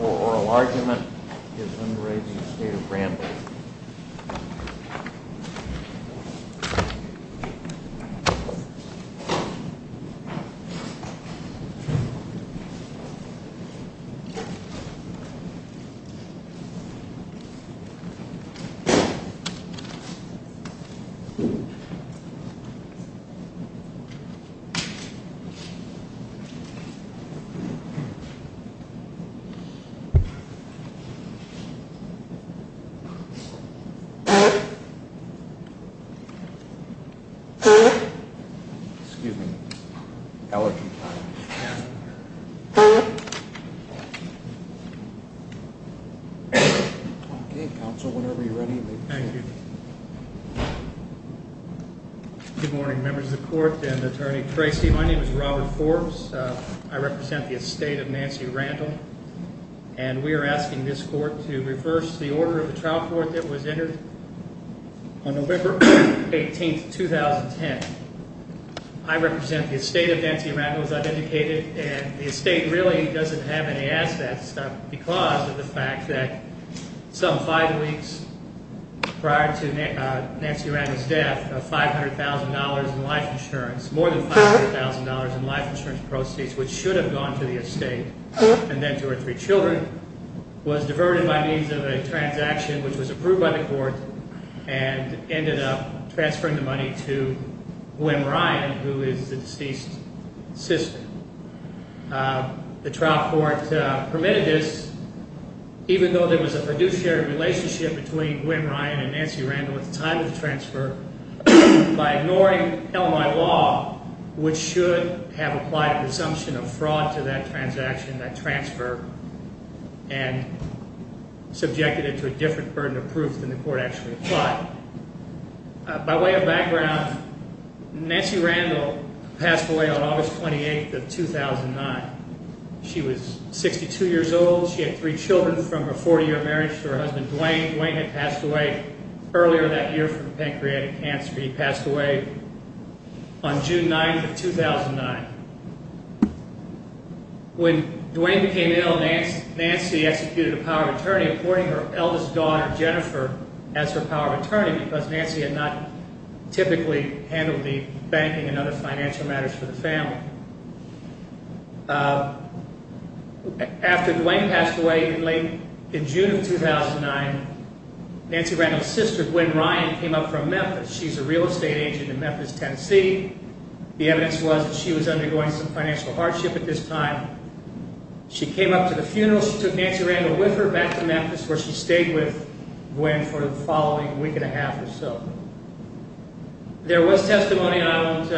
Oral argument is under a state of rambling. Excuse me. Okay, counsel. Whenever you're ready. Thank you. Good morning members of court and Attorney Tracy. My name is Robert Forbes. I represent the estate of Nancy Randall, and we're asking this court to reverse the order of the trial court that was entered on November 18th, 2010. I represent the estate of Nancy Randall, as I've indicated, and the estate really doesn't have any assets because of the fact that some five weeks prior to Nancy Randall's death, Nancy Randall had $500,000 in life insurance, more than $500,000 in life insurance proceeds, which should have gone to the estate and then to her three children, was diverted by means of a transaction which was approved by the court and ended up transferring the money to Gwen Ryan, who is the deceased sister. The trial court permitted this, even though there was a fiduciary relationship between Gwen Ryan and Nancy Randall at the time of the transfer, by ignoring LMI law, which should have applied presumption of fraud to that transaction, that transfer, and subjected it to a different burden of proof than the court actually applied. Now, by way of background, Nancy Randall passed away on August 28th of 2009. She was 62 years old. She had three children from her 40-year marriage to her husband, Dwayne. Dwayne had passed away earlier that year from pancreatic cancer. He passed away on June 9th of 2009. When Dwayne became ill, Nancy executed a power of attorney, appointing her eldest daughter, Jennifer, as her power of attorney, because Nancy had not typically handled the banking and other financial matters for the family. After Dwayne passed away in June of 2009, Nancy Randall's sister, Gwen Ryan, came up from Memphis. She's a real estate agent in Memphis, Tennessee. The evidence was that she was undergoing some financial hardship at this time. She came up to the funeral. She took Nancy Randall with her back to Memphis, where she stayed with Dwayne for the following week and a half or so. There was testimony. I won't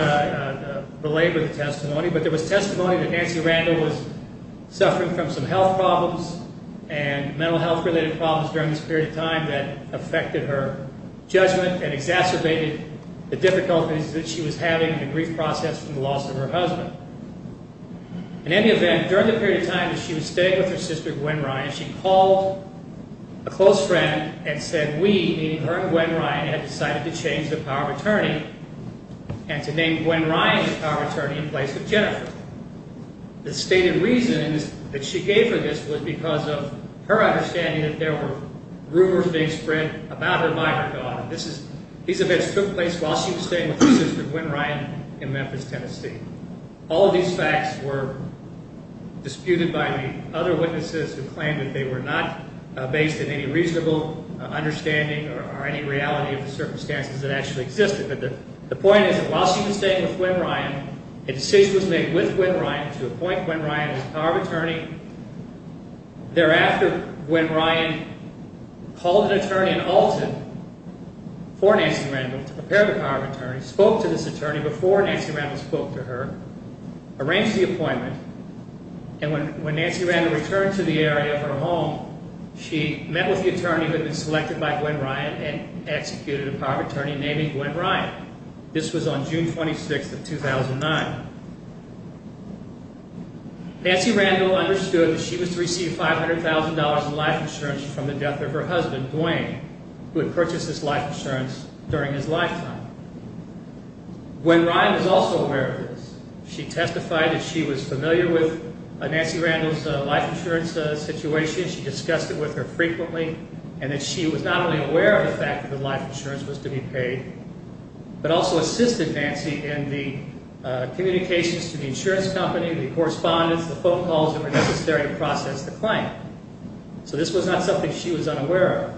belabor the testimony, but there was testimony that Nancy Randall was suffering from some health problems and mental health-related problems during this period of time that affected her judgment and exacerbated the difficulties that she was having and the grief process from the loss of her husband. In any event, during the period of time that she was staying with her sister, Gwen Ryan, she called a close friend and said, we, meaning her and Gwen Ryan, had decided to change the power of attorney and to name Gwen Ryan the power of attorney in place of Jennifer. The stated reason that she gave her this was because of her understanding that there were rumors being spread about her by her daughter. These events took place while she was staying with her sister, Gwen Ryan, in Memphis, Tennessee. All of these facts were disputed by the other witnesses who claimed that they were not based in any reasonable understanding or any reality of the circumstances that actually existed. The point is that while she was staying with Gwen Ryan, a decision was made with Gwen Ryan to appoint Gwen Ryan as the power of attorney. Thereafter, Gwen Ryan called an attorney in Alton for Nancy Randall to prepare the power of attorney, spoke to this attorney before Nancy Randall spoke to her, arranged the appointment, and when Nancy Randall returned to the area of her home, she met with the attorney who had been selected by Gwen Ryan and executed a power of attorney naming Gwen Ryan. This was on June 26th of 2009. Nancy Randall understood that she was to receive $500,000 in life insurance from the death of her husband, Dwayne, who had purchased this life insurance during his lifetime. Gwen Ryan was also aware of this. She testified that she was familiar with Nancy Randall's life insurance situation. She discussed it with her frequently and that she was not only aware of the fact that the life insurance was to be paid but also assisted Nancy in the communications to the insurance company, the correspondents, the phone calls that were necessary to process the claim. So this was not something she was unaware of.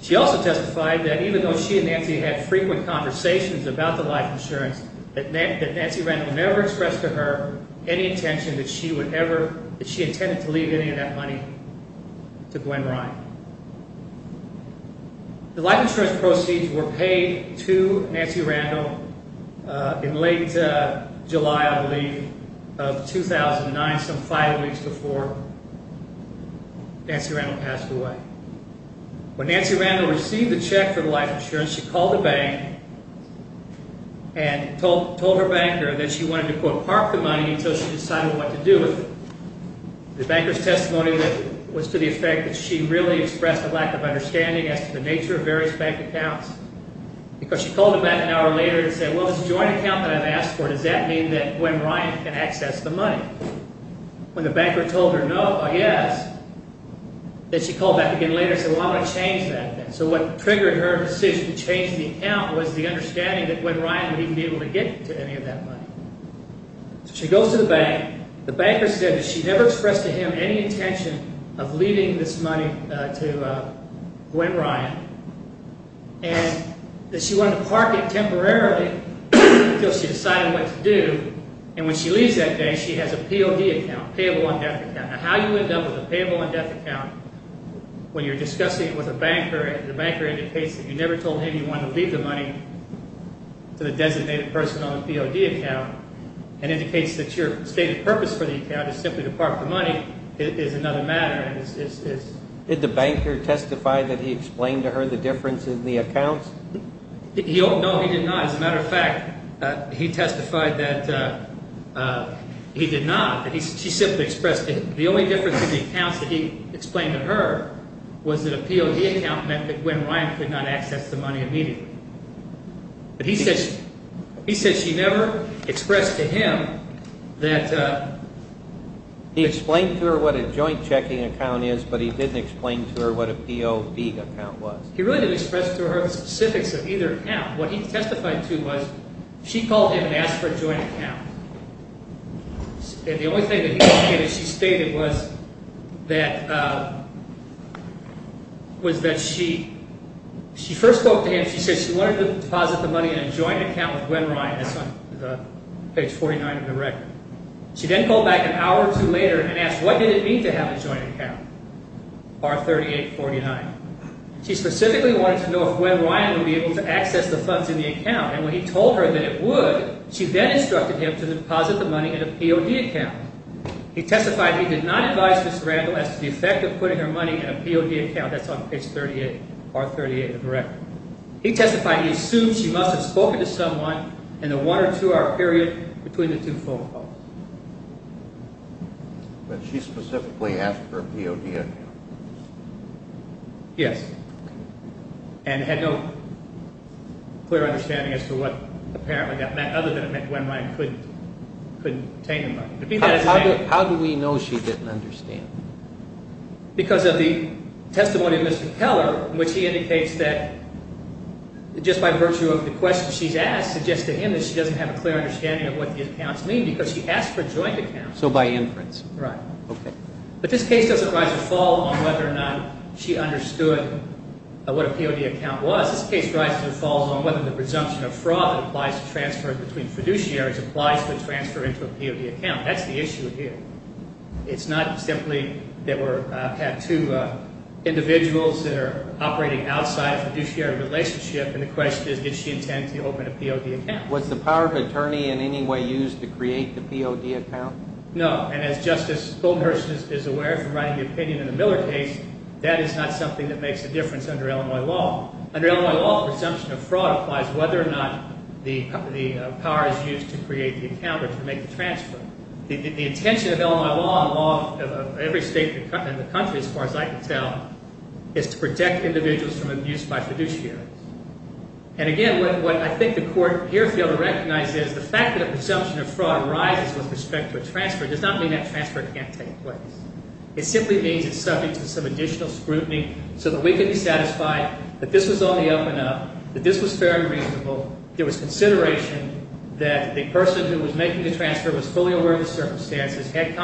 She also testified that even though she and Nancy had frequent conversations about the life insurance, that Nancy Randall never expressed to her any intention that she intended to leave any of that money to Gwen Ryan. The life insurance proceeds were paid to Nancy Randall in late July, I believe, of 2009, some five weeks before Nancy Randall passed away. When Nancy Randall received the check for the life insurance, she called the bank and told her banker that she wanted to, quote, park the money until she decided what to do with it. The banker's testimony was to the effect that she really expressed a lack of understanding as to the nature of various bank accounts because she called him back an hour later and said, well, this joint account that I've asked for, does that mean that Gwen Ryan can access the money? When the banker told her no or yes, then she called back again later and said, well, I'm going to change that then. So what triggered her decision to change the account was the understanding that Gwen Ryan would even be able to get to any of that money. So she goes to the bank. The banker said that she never expressed to him any intention of leaving this money to Gwen Ryan and that she wanted to park it temporarily until she decided what to do. And when she leaves that day, she has a POD account, payable on death account. Now, how you end up with a payable on death account when you're discussing it with a banker and the banker indicates that you never told him you wanted to leave the money to the designated person on the POD account and indicates that your stated purpose for the account is simply to park the money is another matter. Did the banker testify that he explained to her the difference in the accounts? No, he did not. As a matter of fact, he testified that he did not. She simply expressed that the only difference in the accounts that he explained to her was that a POD account meant that Gwen Ryan could not access the money immediately. But he said she never expressed to him that… He explained to her what a joint checking account is, but he didn't explain to her what a POD account was. He really didn't express to her the specifics of either account. What he testified to was she called him and asked for a joint account. And the only thing that he indicated she stated was that she first spoke to him. She said she wanted to deposit the money in a joint account with Gwen Ryan. That's on page 49 of the record. She then called back an hour or two later and asked, what did it mean to have a joint account? Bar 3849. She specifically wanted to know if Gwen Ryan would be able to access the funds in the account. And when he told her that it would, she then instructed him to deposit the money in a POD account. He testified he did not advise Ms. Randall as to the effect of putting her money in a POD account. That's on page 38, bar 38 of the record. He testified he assumed she must have spoken to someone in the one or two hour period between the two phone calls. But she specifically asked for a POD account? Yes. And had no clear understanding as to what apparently that meant, other than it meant Gwen Ryan couldn't obtain the money. How do we know she didn't understand? Because of the testimony of Mr. Keller, which he indicates that just by virtue of the question she's asked suggests to him that she doesn't have a clear understanding of what the accounts mean because she asked for a joint account. So by inference. Right. Okay. But this case doesn't rise or fall on whether or not she understood what a POD account was. This case rises or falls on whether the presumption of fraud that applies to transfers between fiduciaries applies to a transfer into a POD account. That's the issue here. It's not simply that we had two individuals that are operating outside a fiduciary relationship, and the question is did she intend to open a POD account? Was the power of attorney in any way used to create the POD account? No. And as Justice Goldhurst is aware from writing the opinion in the Miller case, that is not something that makes a difference under Illinois law. Under Illinois law, the presumption of fraud applies whether or not the power is used to create the account or to make the transfer. The intention of Illinois law and law of every state in the country, as far as I can tell, is to protect individuals from abuse by fiduciaries. And again, what I think the court here failed to recognize is the fact that a presumption of fraud arises with respect to a transfer does not mean that transfer can't take place. It simply means it's subject to some additional scrutiny so that we can be satisfied that this was on the up and up, that this was fair and reasonable, there was consideration that the person who was making the transfer was fully aware of the circumstances, had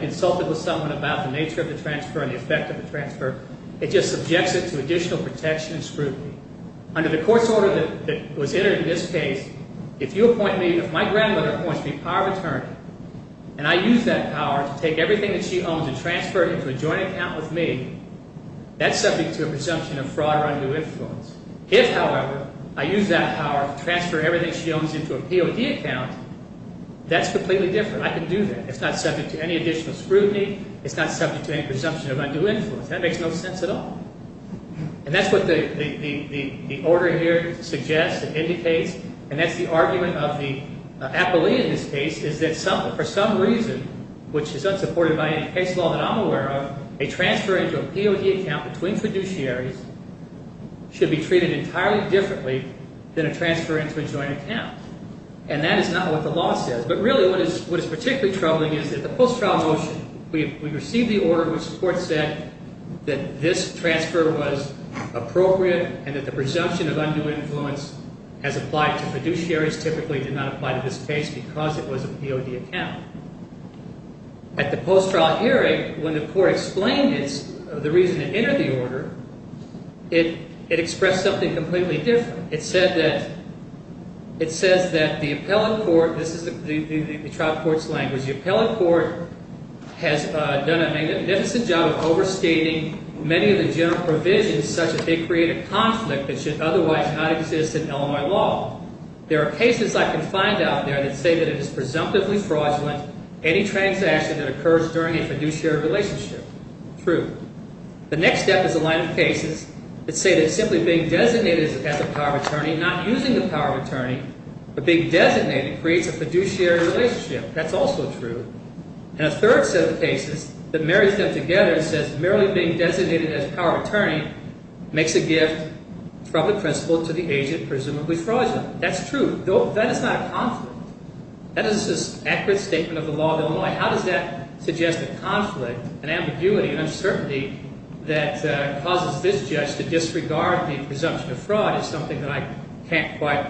consulted with someone about the nature of the transfer and the effect of the transfer. It just subjects it to additional protection and scrutiny. Under the court's order that was entered in this case, if you appoint me, if my grandmother appoints me power of attorney, and I use that power to take everything that she owns and transfer it into a joint account with me, that's subject to a presumption of fraud or undue influence. If, however, I use that power to transfer everything she owns into a POD account, that's completely different. I can do that. It's not subject to any additional scrutiny. It's not subject to any presumption of undue influence. That makes no sense at all. And that's what the order here suggests and indicates. And that's the argument of the appellee in this case is that for some reason, which is unsupported by any case law that I'm aware of, a transfer into a POD account between fiduciaries should be treated entirely differently than a transfer into a joint account. And that is not what the law says. But really what is particularly troubling is that the post-trial motion, we received the order which the court said that this transfer was appropriate and that the presumption of undue influence as applied to fiduciaries typically did not apply to this case because it was a POD account. At the post-trial hearing, when the court explained the reason it entered the order, it expressed something completely different. It said that the appellate court, this is the trial court's language, the appellate court has done a magnificent job of overstating many of the general provisions such that they create a conflict that should otherwise not exist in Illinois law. There are cases I can find out there that say that it is presumptively fraudulent any transaction that occurs during a fiduciary relationship. True. The next step is a line of cases that say that simply being designated as a power of attorney, not using the power of attorney, but being designated creates a fiduciary relationship. That's also true. And a third set of cases that marries them together says merely being designated as a power of attorney makes a gift from the principal to the agent presumably fraudulent. That's true. That is not a conflict. That is an accurate statement of the law of Illinois. How does that suggest a conflict, an ambiguity, an uncertainty that causes this judge to disregard the presumption of fraud is something that I can't quite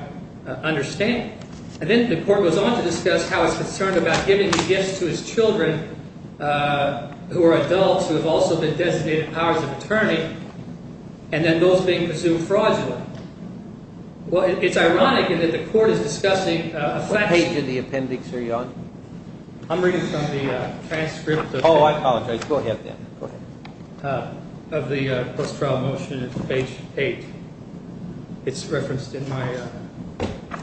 understand. And then the court goes on to discuss how it's concerned about giving the gifts to his children who are adults who have also been designated powers of attorney, and then those being presumed fraudulent. Well, it's ironic in that the court is discussing a flashback. What page of the appendix are you on? I'm reading from the transcript. Oh, I apologize. Go ahead then. Go ahead. Of the post-trial motion, page 8. It's referenced in my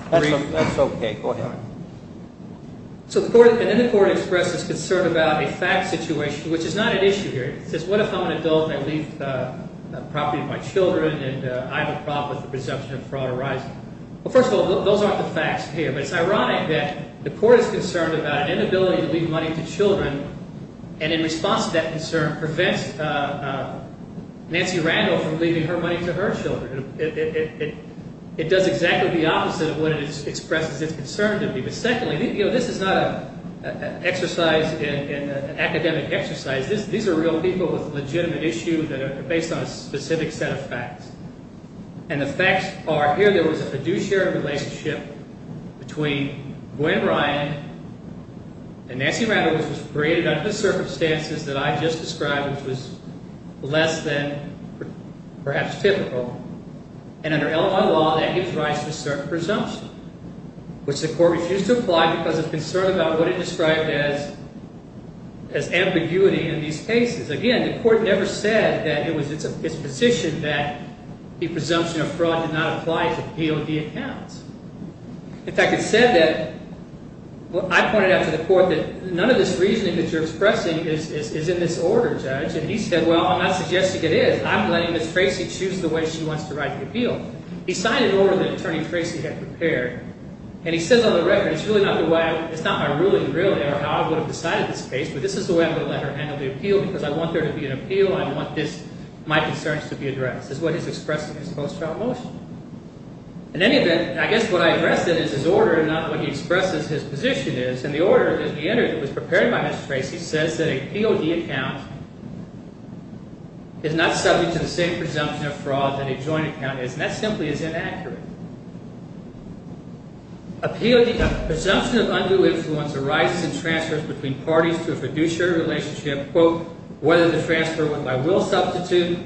brief. That's OK. Go ahead. So then the court expresses concern about a fact situation, which is not an issue here. It says what if I'm an adult and I leave the property of my children and I have a problem with the presumption of fraud arising? Well, first of all, those aren't the facts here. But it's ironic that the court is concerned about an inability to leave money to children, and in response to that concern, prevents Nancy Randall from leaving her money to her children. It does exactly the opposite of what it expresses its concern to be. But secondly, this is not an academic exercise. These are real people with a legitimate issue that are based on a specific set of facts. And the facts are here there was a fiduciary relationship between Gwen Ryan and Nancy Randall, which was created under the circumstances that I just described, which was less than perhaps typical. And under Illinois law, that gives rise to a certain presumption, which the court refused to apply because of concern about what it described as ambiguity in these cases. Again, the court never said that it was its position that the presumption of fraud did not apply to POD accounts. In fact, it said that – I pointed out to the court that none of this reasoning that you're expressing is in this order, Judge. And he said, well, I'm not suggesting it is. I'm letting Ms. Tracy choose the way she wants to write the appeal. He signed an order that Attorney Tracy had prepared. And he says on the record, it's not my ruling really or how I would have decided this case, but this is the way I'm going to let her handle the appeal because I want there to be an appeal. I want my concerns to be addressed. This is what he's expressing in his post-trial motion. In any event, I guess what I addressed is his order and not what he expresses his position is. And the order that he entered that was prepared by Ms. Tracy says that a POD account is not subject to the same presumption of fraud that a joint account is, and that simply is inaccurate. A presumption of undue influence arises in transfers between parties to a fiduciary relationship, quote, whether the transfer went by will substitute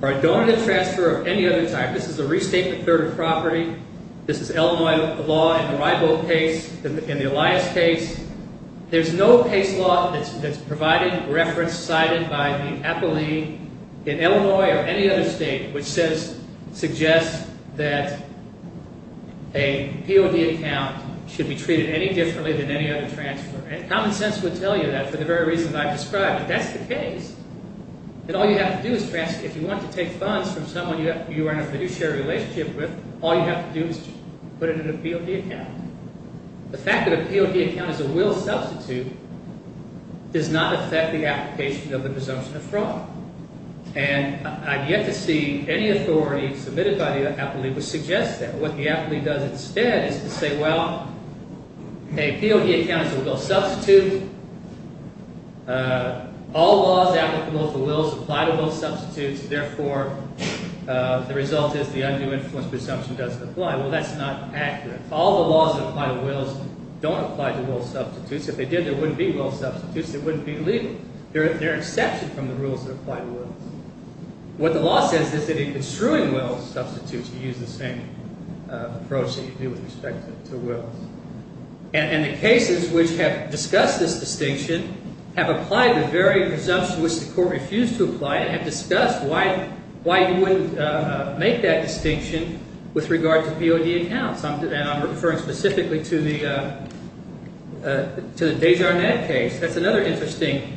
or a donated transfer of any other type. This is a restatement third of property. This is Illinois law in the Ribo case, in the Elias case. There's no case law that's provided, referenced, cited by the appellee in Illinois or any other state which suggests that a POD account should be treated any differently than any other transfer. And common sense would tell you that for the very reasons I've described, but that's the case. And all you have to do is transfer. If you want to take funds from someone you are in a fiduciary relationship with, all you have to do is put it in a POD account. The fact that a POD account is a will substitute does not affect the application of the presumption of fraud. And I've yet to see any authority submitted by the appellee which suggests that. What the appellee does instead is to say, well, a POD account is a will substitute. All laws applicable to wills apply to both substitutes. Therefore, the result is the undue influence presumption doesn't apply. Well, that's not accurate. All the laws that apply to wills don't apply to will substitutes. If they did, there wouldn't be will substitutes. It wouldn't be legal. They're an exception from the rules that apply to wills. What the law says is that in construing will substitutes, you use the same approach that you do with respect to wills. And the cases which have discussed this distinction have applied the very presumption which the court refused to apply and have discussed why you wouldn't make that distinction with regard to POD accounts. And I'm referring specifically to the Desjardins case. That's another interesting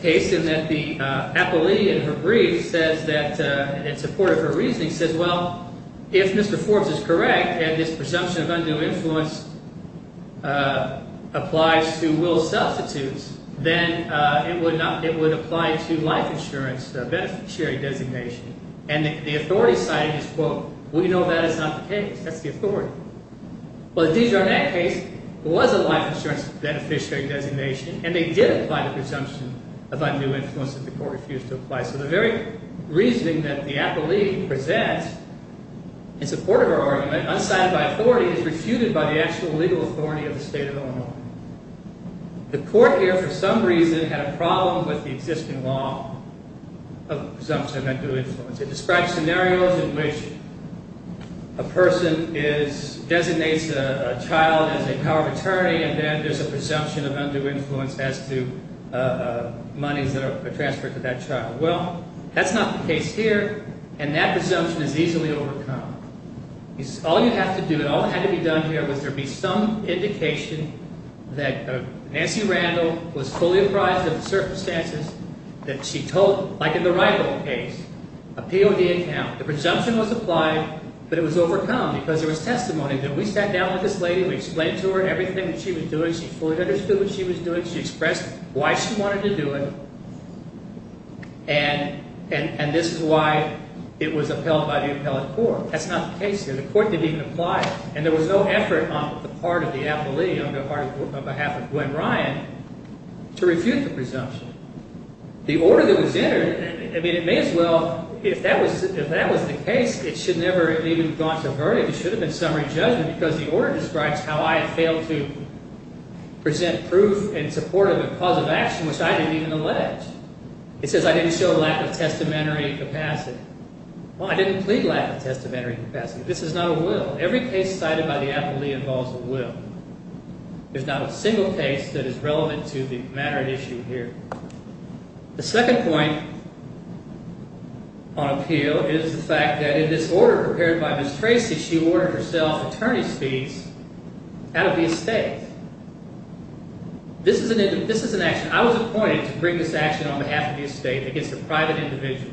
case in that the appellee in her brief says that in support of her reasoning says, well, if Mr. Forbes is correct and this presumption of undue influence applies to will substitutes, then it would apply to life insurance beneficiary designation. And the authority cited is, quote, we know that is not the case. That's the authority. Well, the Desjardins case was a life insurance beneficiary designation. And they did apply the presumption of undue influence that the court refused to apply. So the very reasoning that the appellee presents in support of her argument, unscinded by authority, is refuted by the actual legal authority of the state of Illinois. The court here, for some reason, had a problem with the existing law of presumption of undue influence. It describes scenarios in which a person designates a child as a power of attorney and then there's a presumption of undue influence as to monies that are transferred to that child. Well, that's not the case here. And that presumption is easily overcome. All you have to do, and all that had to be done here, was there be some indication that Nancy Randall was fully apprised of the circumstances that she told, like in the Wrightville case, appeal the account. The presumption was applied, but it was overcome because there was testimony. We sat down with this lady. We explained to her everything that she was doing. She fully understood what she was doing. She expressed why she wanted to do it. And this is why it was upheld by the appellate court. That's not the case here. The court didn't even apply it. And there was no effort on the part of the appellee, on behalf of Gwen Ryan, to refute the presumption. The order that was entered, I mean, it may as well, if that was the case, it should never have even gone to a verdict. It should have been summary judgment because the order describes how I had failed to present proof in support of a cause of action which I didn't even allege. It says I didn't show lack of testamentary capacity. Well, I didn't plead lack of testamentary capacity. This is not a will. Every case cited by the appellee involves a will. There's not a single case that is relevant to the matter at issue here. The second point on appeal is the fact that in this order prepared by Ms. Tracy, she ordered herself attorney's fees out of the estate. This is an action. I was appointed to bring this action on behalf of the estate against a private individual.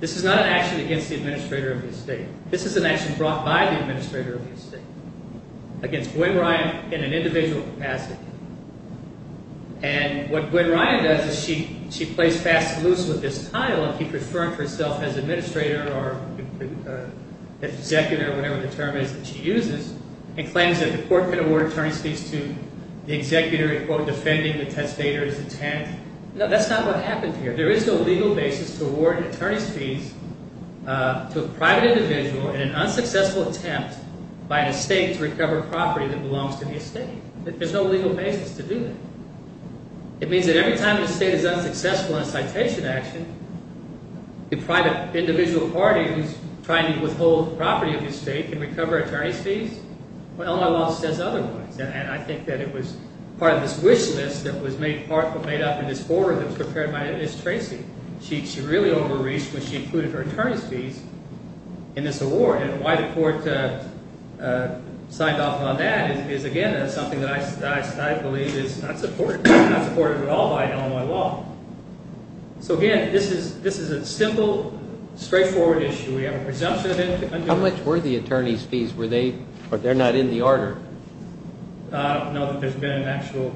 This is not an action against the administrator of the estate. This is an action brought by the administrator of the estate against Gwen Ryan in an individual capacity. And what Gwen Ryan does is she plays fast and loose with this tile and keeps referring to herself as administrator or executor, whatever the term is that she uses, and claims that the court can award attorney's fees to the executor in, quote, defending the testator's intent. No, that's not what happened here. There is no legal basis to award attorney's fees to a private individual in an unsuccessful attempt by an estate to recover property that belongs to the estate. There's no legal basis to do that. It means that every time an estate is unsuccessful in a citation action, the private individual party who's trying to withhold property of the estate can recover attorney's fees when Illinois law says otherwise. And I think that it was part of this wish list that was made up in this order that was prepared by Ms. Tracy. She really overreached when she included her attorney's fees in this award. And why the court signed off on that is, again, something that I believe is not supported at all by Illinois law. So, again, this is a simple, straightforward issue. We have a presumption of individuals. How much were the attorney's fees? They're not in the order. No, there's been an actual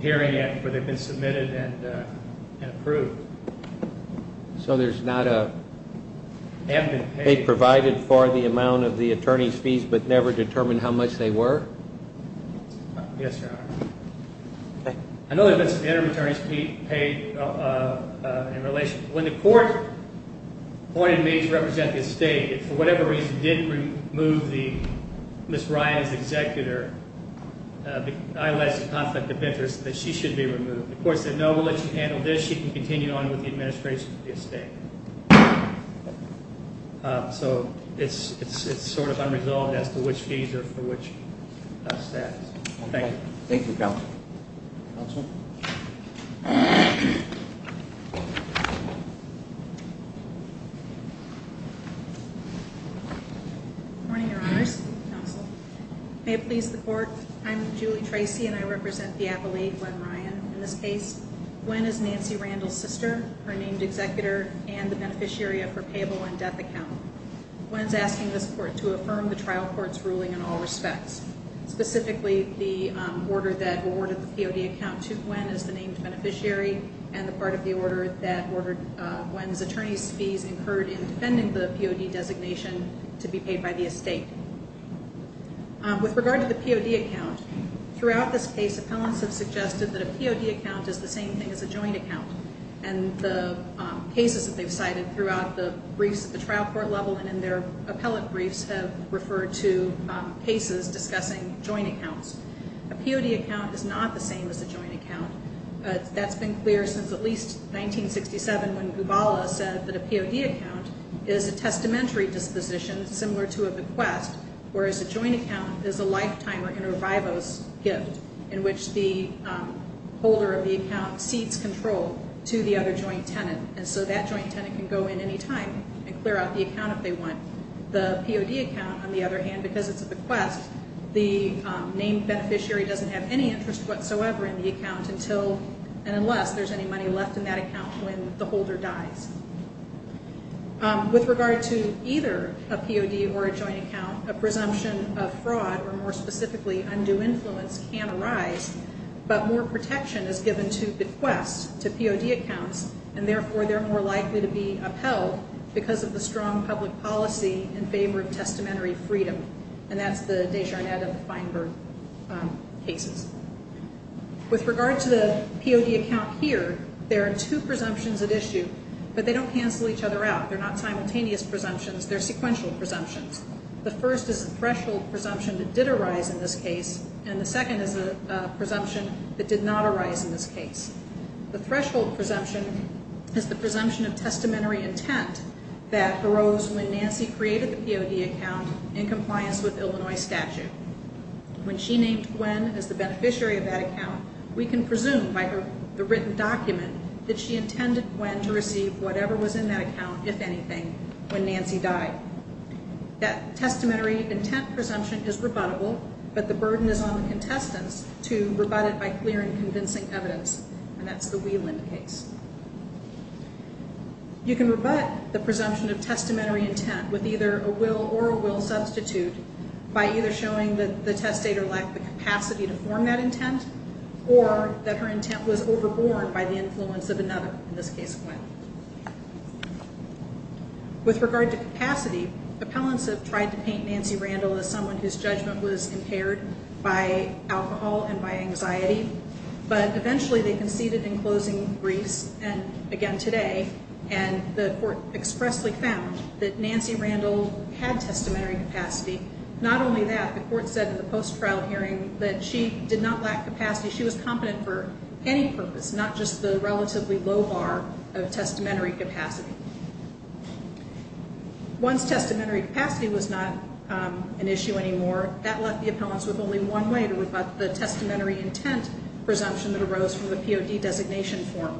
hearing where they've been submitted and approved. So there's not a pay provided for the amount of the attorney's fees but never determined how much they were? Yes, Your Honor. Okay. I know there have been some interim attorney's fees paid in relation. When the court appointed me to represent the estate, it, for whatever reason, didn't remove Ms. Ryan's executor. I alleged a conflict of interest that she should be removed. The court said, no, we'll let you handle this. You can continue on with the administration of the estate. So it's sort of unresolved as to which fees are for which status. Thank you. Thank you, Counsel. Counsel? Good morning, Your Honors. Counsel. May it please the Court, I'm Julie Tracy and I represent the Appalachian Glen Ryan. In this case, Gwen is Nancy Randall's sister, her named executor, and the beneficiary of her payable-in-debt account. Gwen is asking this Court to affirm the trial court's ruling in all respects. Specifically, the order that awarded the POD account to Gwen is the named beneficiary and the part of the order that ordered Gwen's attorney's fees incurred in defending the POD designation to be paid by the estate. With regard to the POD account, throughout this case, appellants have suggested that a POD account is the same thing as a joint account. And the cases that they've cited throughout the briefs at the trial court level and in their appellate briefs have referred to cases discussing joint accounts. A POD account is not the same as a joint account. That's been clear since at least 1967 when Gubala said that a POD account is a testamentary disposition similar to a bequest, whereas a joint account is a lifetime or inter vivos gift in which the holder of the account cedes control to the other joint tenant. And so that joint tenant can go in any time and clear out the account if they want. The POD account, on the other hand, because it's a bequest, the named beneficiary doesn't have any interest whatsoever in the account until and unless there's any money left in that account when the holder dies. With regard to either a POD or a joint account, a presumption of fraud or more specifically undue influence can arise, but more protection is given to bequests, to POD accounts, and therefore they're more likely to be upheld because of the strong public policy in favor of testamentary freedom, and that's the Desjardins and Feinberg cases. With regard to the POD account here, there are two presumptions at issue, but they don't cancel each other out. They're not simultaneous presumptions. They're sequential presumptions. The first is a threshold presumption that did arise in this case, and the second is a presumption that did not arise in this case. The threshold presumption is the presumption of testamentary intent that arose when Nancy created the POD account in compliance with Illinois statute. When she named Gwen as the beneficiary of that account, we can presume by the written document that she intended Gwen to receive whatever was in that account, if anything, when Nancy died. That testamentary intent presumption is rebuttable, but the burden is on the contestants to rebut it by clear and convincing evidence, and that's the Wieland case. You can rebut the presumption of testamentary intent with either a will or a will substitute by either showing that the testator lacked the capacity to form that intent or that her intent was overborne by the influence of another, in this case Gwen. With regard to capacity, appellants have tried to paint Nancy Randall as someone whose judgment was impaired by alcohol and by anxiety, but eventually they conceded in closing briefs, and again today, and the court expressly found that Nancy Randall had testamentary capacity. Not only that, the court said at the post-trial hearing that she did not lack capacity. She was competent for any purpose, not just the relatively low bar of testamentary capacity. Once testamentary capacity was not an issue anymore, that left the appellants with only one way to rebut the testamentary intent presumption that arose from the POD designation form,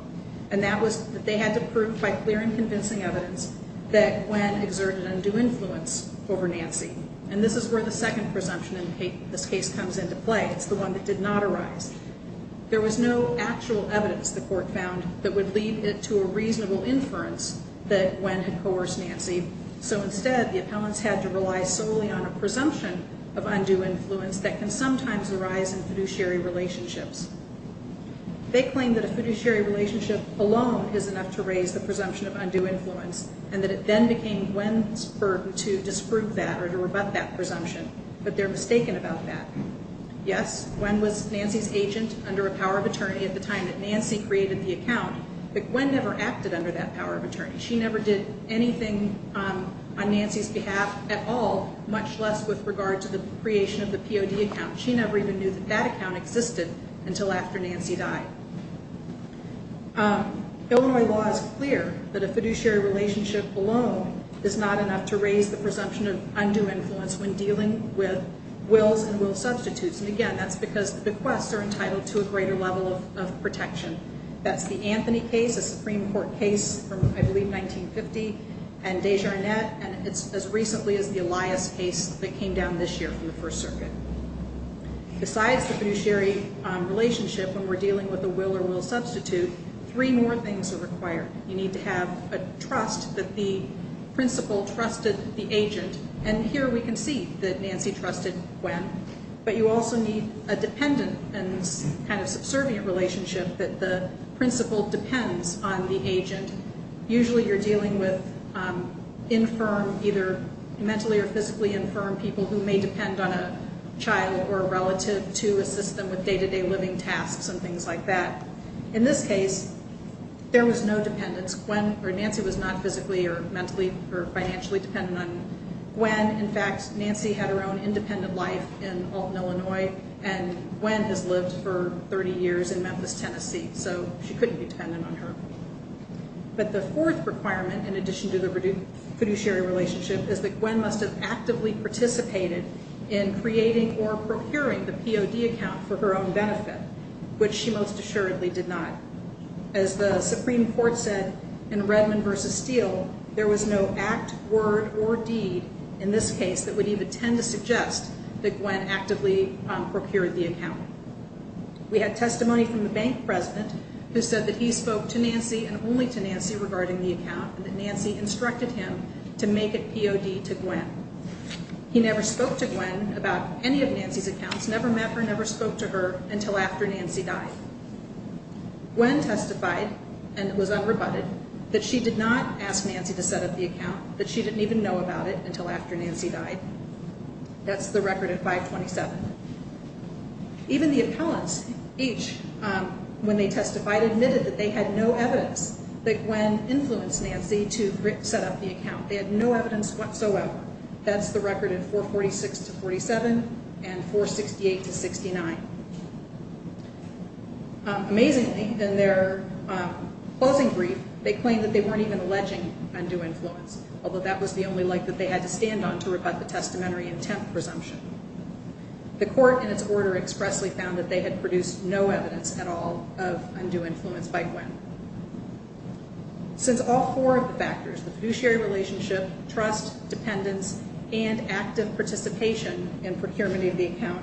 and that was that they had to prove by clear and convincing evidence that Gwen exerted undue influence over Nancy, and this is where the second presumption in this case comes into play. It's the one that did not arise. There was no actual evidence, the court found, that would lead it to a reasonable inference that Gwen had coerced Nancy, so instead the appellants had to rely solely on a presumption of undue influence that can sometimes arise in fiduciary relationships. They claimed that a fiduciary relationship alone is enough to raise the presumption of undue influence, and that it then became Gwen's burden to disprove that or to rebut that presumption, but they're mistaken about that. Yes, Gwen was Nancy's agent under a power of attorney at the time that Nancy created the account, but Gwen never acted under that power of attorney. She never did anything on Nancy's behalf at all, much less with regard to the creation of the POD account. She never even knew that that account existed until after Nancy died. Illinois law is clear that a fiduciary relationship alone is not enough to raise the presumption of undue influence when dealing with wills and will substitutes, and again, that's because bequests are entitled to a greater level of protection. That's the Anthony case, a Supreme Court case from, I believe, 1950, and Desjardins, and it's as recently as the Elias case that came down this year from the First Circuit. Besides the fiduciary relationship when we're dealing with a will or will substitute, three more things are required. You need to have a trust that the principal trusted the agent, and here we can see that Nancy trusted Gwen, but you also need a dependent and kind of subservient relationship that the principal depends on the agent. Usually you're dealing with either mentally or physically infirm people who may depend on a child or a relative to assist them with day-to-day living tasks and things like that. In this case, there was no dependence. Nancy was not physically or mentally or financially dependent on Gwen. In fact, Nancy had her own independent life in Alton, Illinois, and Gwen has lived for 30 years in Memphis, Tennessee, so she couldn't be dependent on her. But the fourth requirement in addition to the fiduciary relationship is that Gwen must have actively participated in creating or procuring the POD account for her own benefit, which she most assuredly did not. As the Supreme Court said in Redmond v. Steele, there was no act, word, or deed in this case that would even tend to suggest that Gwen actively procured the account. We had testimony from the bank president who said that he spoke to Nancy and only to Nancy regarding the account and that Nancy instructed him to make a POD to Gwen. He never spoke to Gwen about any of Nancy's accounts, never met her, never spoke to her until after Nancy died. Gwen testified, and it was unrebutted, that she did not ask Nancy to set up the account, that she didn't even know about it until after Nancy died. That's the record at 527. Even the appellants, each, when they testified, admitted that they had no evidence that Gwen influenced Nancy to set up the account. They had no evidence whatsoever. That's the record at 446-47 and 468-69. Amazingly, in their closing brief, they claimed that they weren't even alleging undue influence, although that was the only leg that they had to stand on to rebut the testamentary intent presumption. The court, in its order, expressly found that they had produced no evidence at all of undue influence by Gwen. Since all four of the factors, the fiduciary relationship, trust, dependence, and active participation in procurement of the account,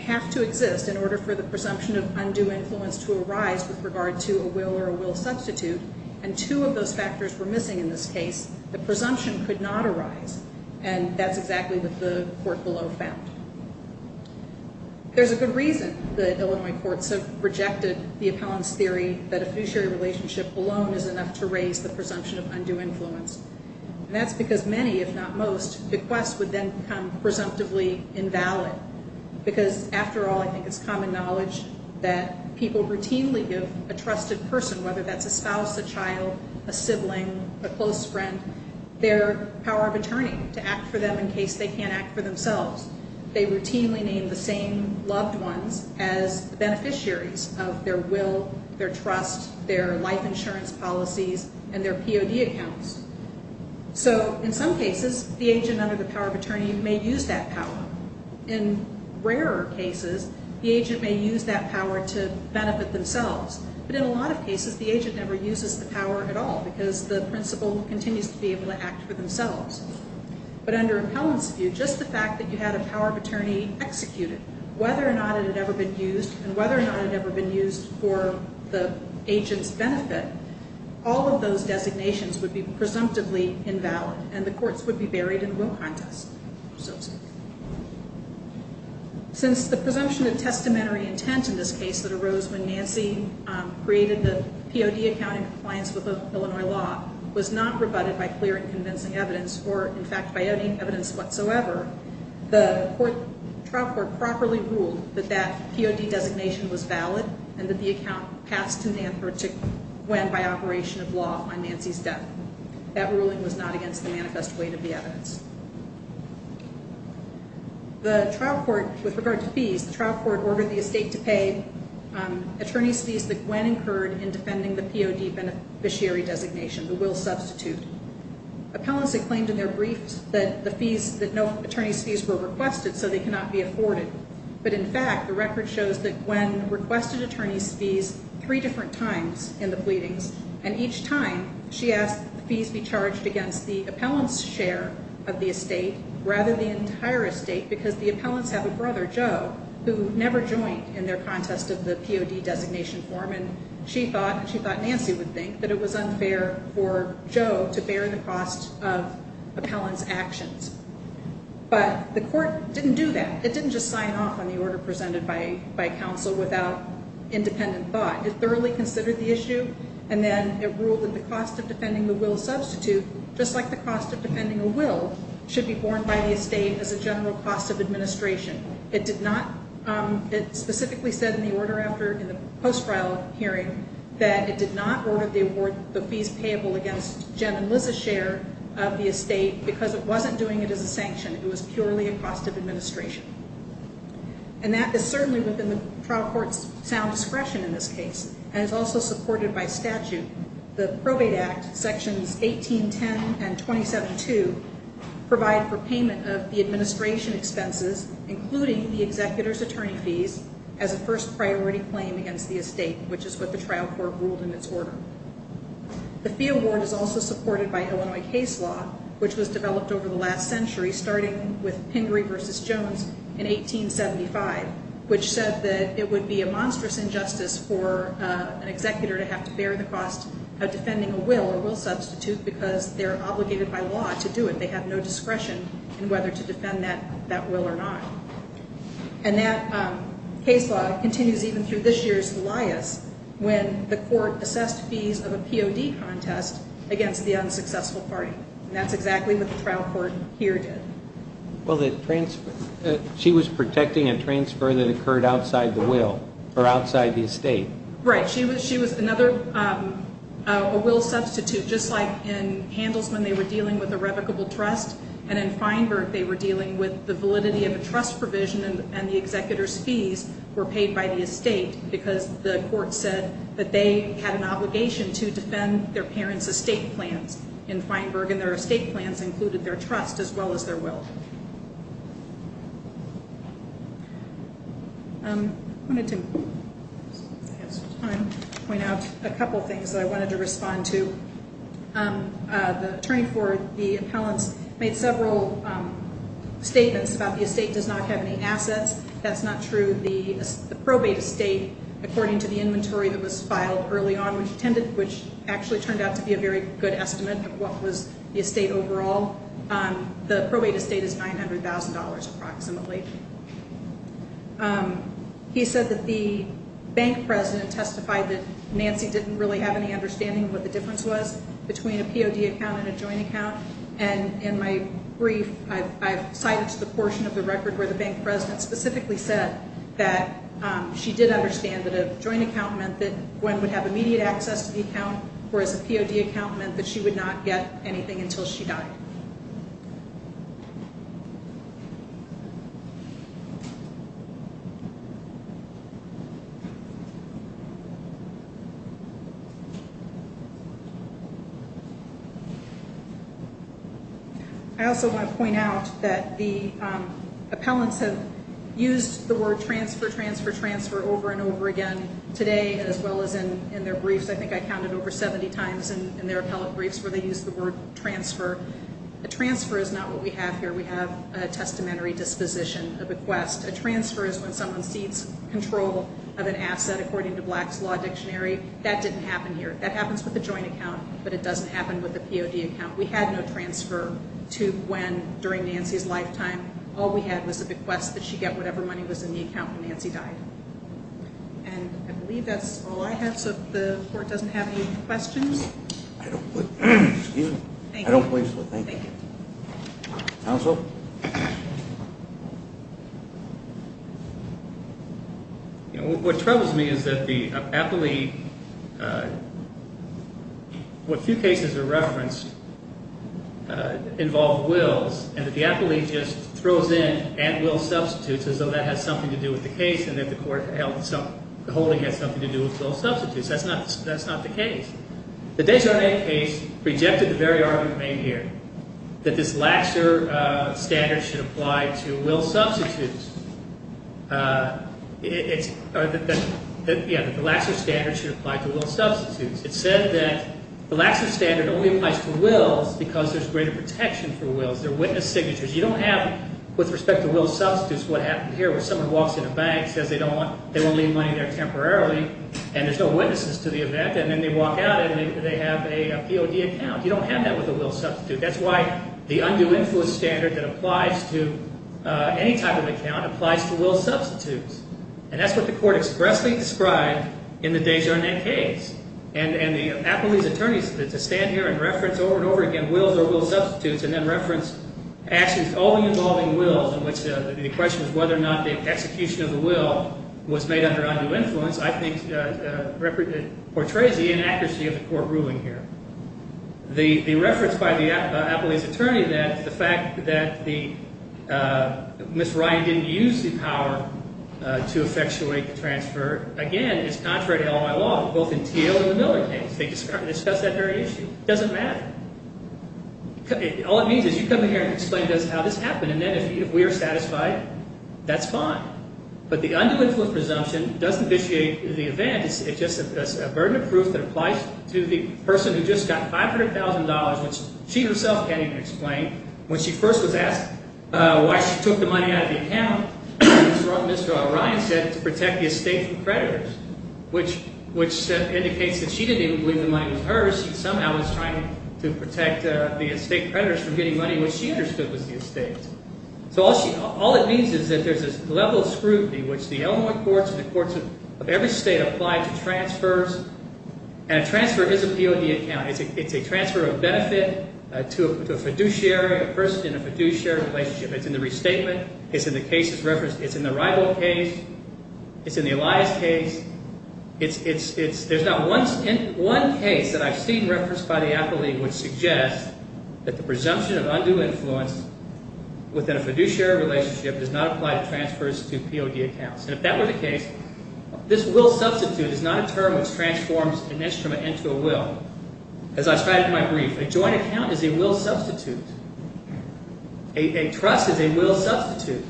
have to exist in order for the presumption of undue influence to arise with regard to a will or a will substitute, and two of those factors were missing in this case, the presumption could not arise. And that's exactly what the court below found. There's a good reason that Illinois courts have rejected the appellant's theory that a fiduciary relationship alone is enough to raise the presumption of undue influence. And that's because many, if not most, bequest would then become presumptively invalid. Because, after all, I think it's common knowledge that people routinely give a trusted person, whether that's a spouse, a child, a sibling, a close friend, their power of attorney to act for them in case they can't act for themselves. They routinely name the same loved ones as beneficiaries of their will, their trust, their life insurance policies, and their POD accounts. So, in some cases, the agent under the power of attorney may use that power. In rarer cases, the agent may use that power to benefit themselves. But in a lot of cases, the agent never uses the power at all, because the principal continues to be able to act for themselves. But under appellant's view, just the fact that you had a power of attorney executed, whether or not it had ever been used, and whether or not it had ever been used for the agent's benefit, all of those designations would be presumptively invalid, and the courts would be buried in a will contest. Since the presumption of testamentary intent in this case that arose when Nancy created the POD account in compliance with Illinois law was not rebutted by clear and convincing evidence, or, in fact, by any evidence whatsoever, the trial court properly ruled that that POD designation was valid and that the account passed to Nancy to win by operation of law on Nancy's death. That ruling was not against the manifest weight of the evidence. With regard to fees, the trial court ordered the estate to pay attorney's fees that Gwen incurred in defending the POD beneficiary designation, the will substitute. Appellants had claimed in their briefs that no attorney's fees were requested, so they cannot be afforded. But in fact, the record shows that Gwen requested attorney's fees three different times in the pleadings, and each time she asked that the fees be charged against the appellant's share of the estate, rather the entire estate, because the appellants have a brother, Joe, who never joined in their contest of the POD designation form, and she thought Nancy would think that it was unfair for Joe to bear the cost of appellant's actions. But the court didn't do that. It didn't just sign off on the order presented by counsel without independent thought. It thoroughly considered the issue, and then it ruled that the cost of defending the will substitute, just like the cost of defending a will, should be borne by the estate as a general cost of administration. It specifically said in the post-trial hearing that it did not order the fees payable against Jen and Liz's share of the estate because it wasn't doing it as a sanction. It was purely a cost of administration. And that is certainly within the trial court's sound discretion in this case and is also supported by statute. The Probate Act, Sections 18.10 and 27.2, provide for payment of the administration expenses, including the executor's attorney fees, as a first priority claim against the estate, which is what the trial court ruled in its order. The fee award is also supported by Illinois case law, which was developed over the last century, starting with Pingree v. Jones in 1875, which said that it would be a monstrous injustice for an executor to have to bear the cost of defending a will or will substitute because they're obligated by law to do it. They have no discretion in whether to defend that will or not. And that case law continues even through this year's Elias, when the court assessed fees of a POD contest against the unsuccessful party. And that's exactly what the trial court here did. Well, she was protecting a transfer that occurred outside the will or outside the estate. Right. She was another will substitute, just like in Handelsman they were dealing with a revocable trust, and in Feinberg they were dealing with the validity of a trust provision and the executor's fees were paid by the estate because the court said that they had an obligation to defend their parents' estate plans in Feinberg, and their estate plans included their trust as well as their will. I wanted to point out a couple of things that I wanted to respond to. The attorney for the appellants made several statements about the estate does not have any assets. That's not true. The probate estate, according to the inventory that was filed early on, which actually turned out to be a very good estimate of what was the estate overall, the probate estate is $900,000 approximately. He said that the bank president testified that Nancy didn't really have any understanding of what the difference was between a POD account and a joint account. In my brief, I've cited the portion of the record where the bank president specifically said that she did understand that a joint account meant that Gwen would have immediate access to the account, whereas a POD account meant that she would not get anything until she died. I also want to point out that the appellants have used the word transfer, transfer, transfer over and over again today, as well as in their briefs. I think I counted over 70 times in their appellate briefs where they used the word transfer. A transfer is not what we have here. We have a testamentary disposition, a bequest. A transfer is when someone cedes control of an asset, according to Black's Law Dictionary. That didn't happen here. That happens with a joint account, but it doesn't happen with a POD account. We had no transfer to Gwen during Nancy's lifetime. All we had was a bequest that she get whatever money was in the account when Nancy died. And I believe that's all I have, so if the court doesn't have any questions. I don't believe so. Thank you. Counsel? You know, what troubles me is that the appellate, what few cases are referenced, involve wills, and that the appellate just throws in at-will substitutes as though that has something to do with the case and that the holding has something to do with those substitutes. That's not the case. The Desjardins case rejected the very argument made here, that this laxer, that standards should apply to will substitutes. Yeah, that the laxer standard should apply to will substitutes. It said that the laxer standard only applies to wills because there's greater protection for wills. They're witness signatures. You don't have, with respect to will substitutes, what happened here, where someone walks in a bank, says they won't leave money there temporarily, and there's no witnesses to the event, and then they walk out and they have a POD account. You don't have that with a will substitute. That's why the undue influence standard that applies to any type of account applies to will substitutes. And that's what the court expressly described in the Desjardins case. And the appellee's attorneys, to stand here and reference over and over again wills or will substitutes and then reference actions only involving wills, in which the question is whether or not the execution of the will was made under undue influence, I think portrays the inaccuracy of the court ruling here. The reference by the appellee's attorney that the fact that Ms. Ryan didn't use the power to effectuate the transfer, again, is contrary to all my law, both in T.O. and the Miller case. They discuss that very issue. It doesn't matter. All it means is you come in here and explain to us how this happened, and then if we are satisfied, that's fine. But the undue influence presumption doesn't vitiate the event. It's just a burden of proof that applies to the person who just got $500,000, which she herself can't even explain. When she first was asked why she took the money out of the account, Mr. Ryan said it's to protect the estate from creditors, which indicates that she didn't even believe the money was hers. She somehow was trying to protect the estate creditors from getting money which she understood was the estate. So all it means is that there's this level of scrutiny which the Illinois courts and the courts of every state apply to transfers, and a transfer is a POD account. It's a transfer of benefit to a fiduciary, a person in a fiduciary relationship. It's in the restatement. It's in the cases referenced. It's in the rival case. It's in the Elias case. There's not one case that I've seen referenced by the Apple League which suggests that the presumption of undue influence within a fiduciary relationship does not apply to transfers to POD accounts. And if that were the case, this will substitute is not a term which transforms an instrument into a will. As I said in my brief, a joint account is a will substitute. A trust is a will substitute.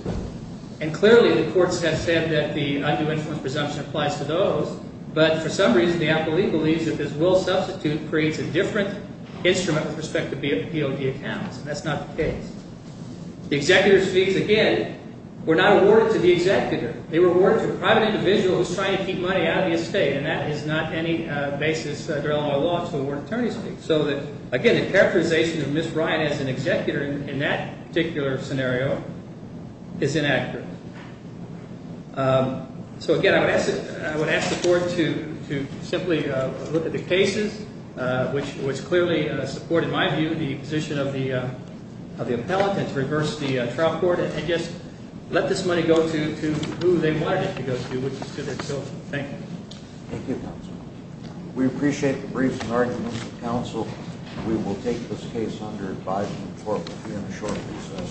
And clearly the courts have said that the undue influence presumption applies to those, but for some reason the Apple League believes that this will substitute creates a different instrument with respect to POD accounts, and that's not the case. The executor speaks again. We're not awarded to the executor. They were awarded to a private individual who's trying to keep money out of the estate, and that is not any basis under Illinois law to award attorney's fees. So, again, the characterization of Ms. Ryan as an executor in that particular scenario is inaccurate. So, again, I would ask the court to simply look at the cases, which clearly support, in my view, the position of the appellate and to reverse the trial court and just let this money go to who they wanted it to go to, which is to their children. Thank you. Thank you, counsel. We appreciate the briefs and arguments of counsel. We will take this case under advisement for review in the short process.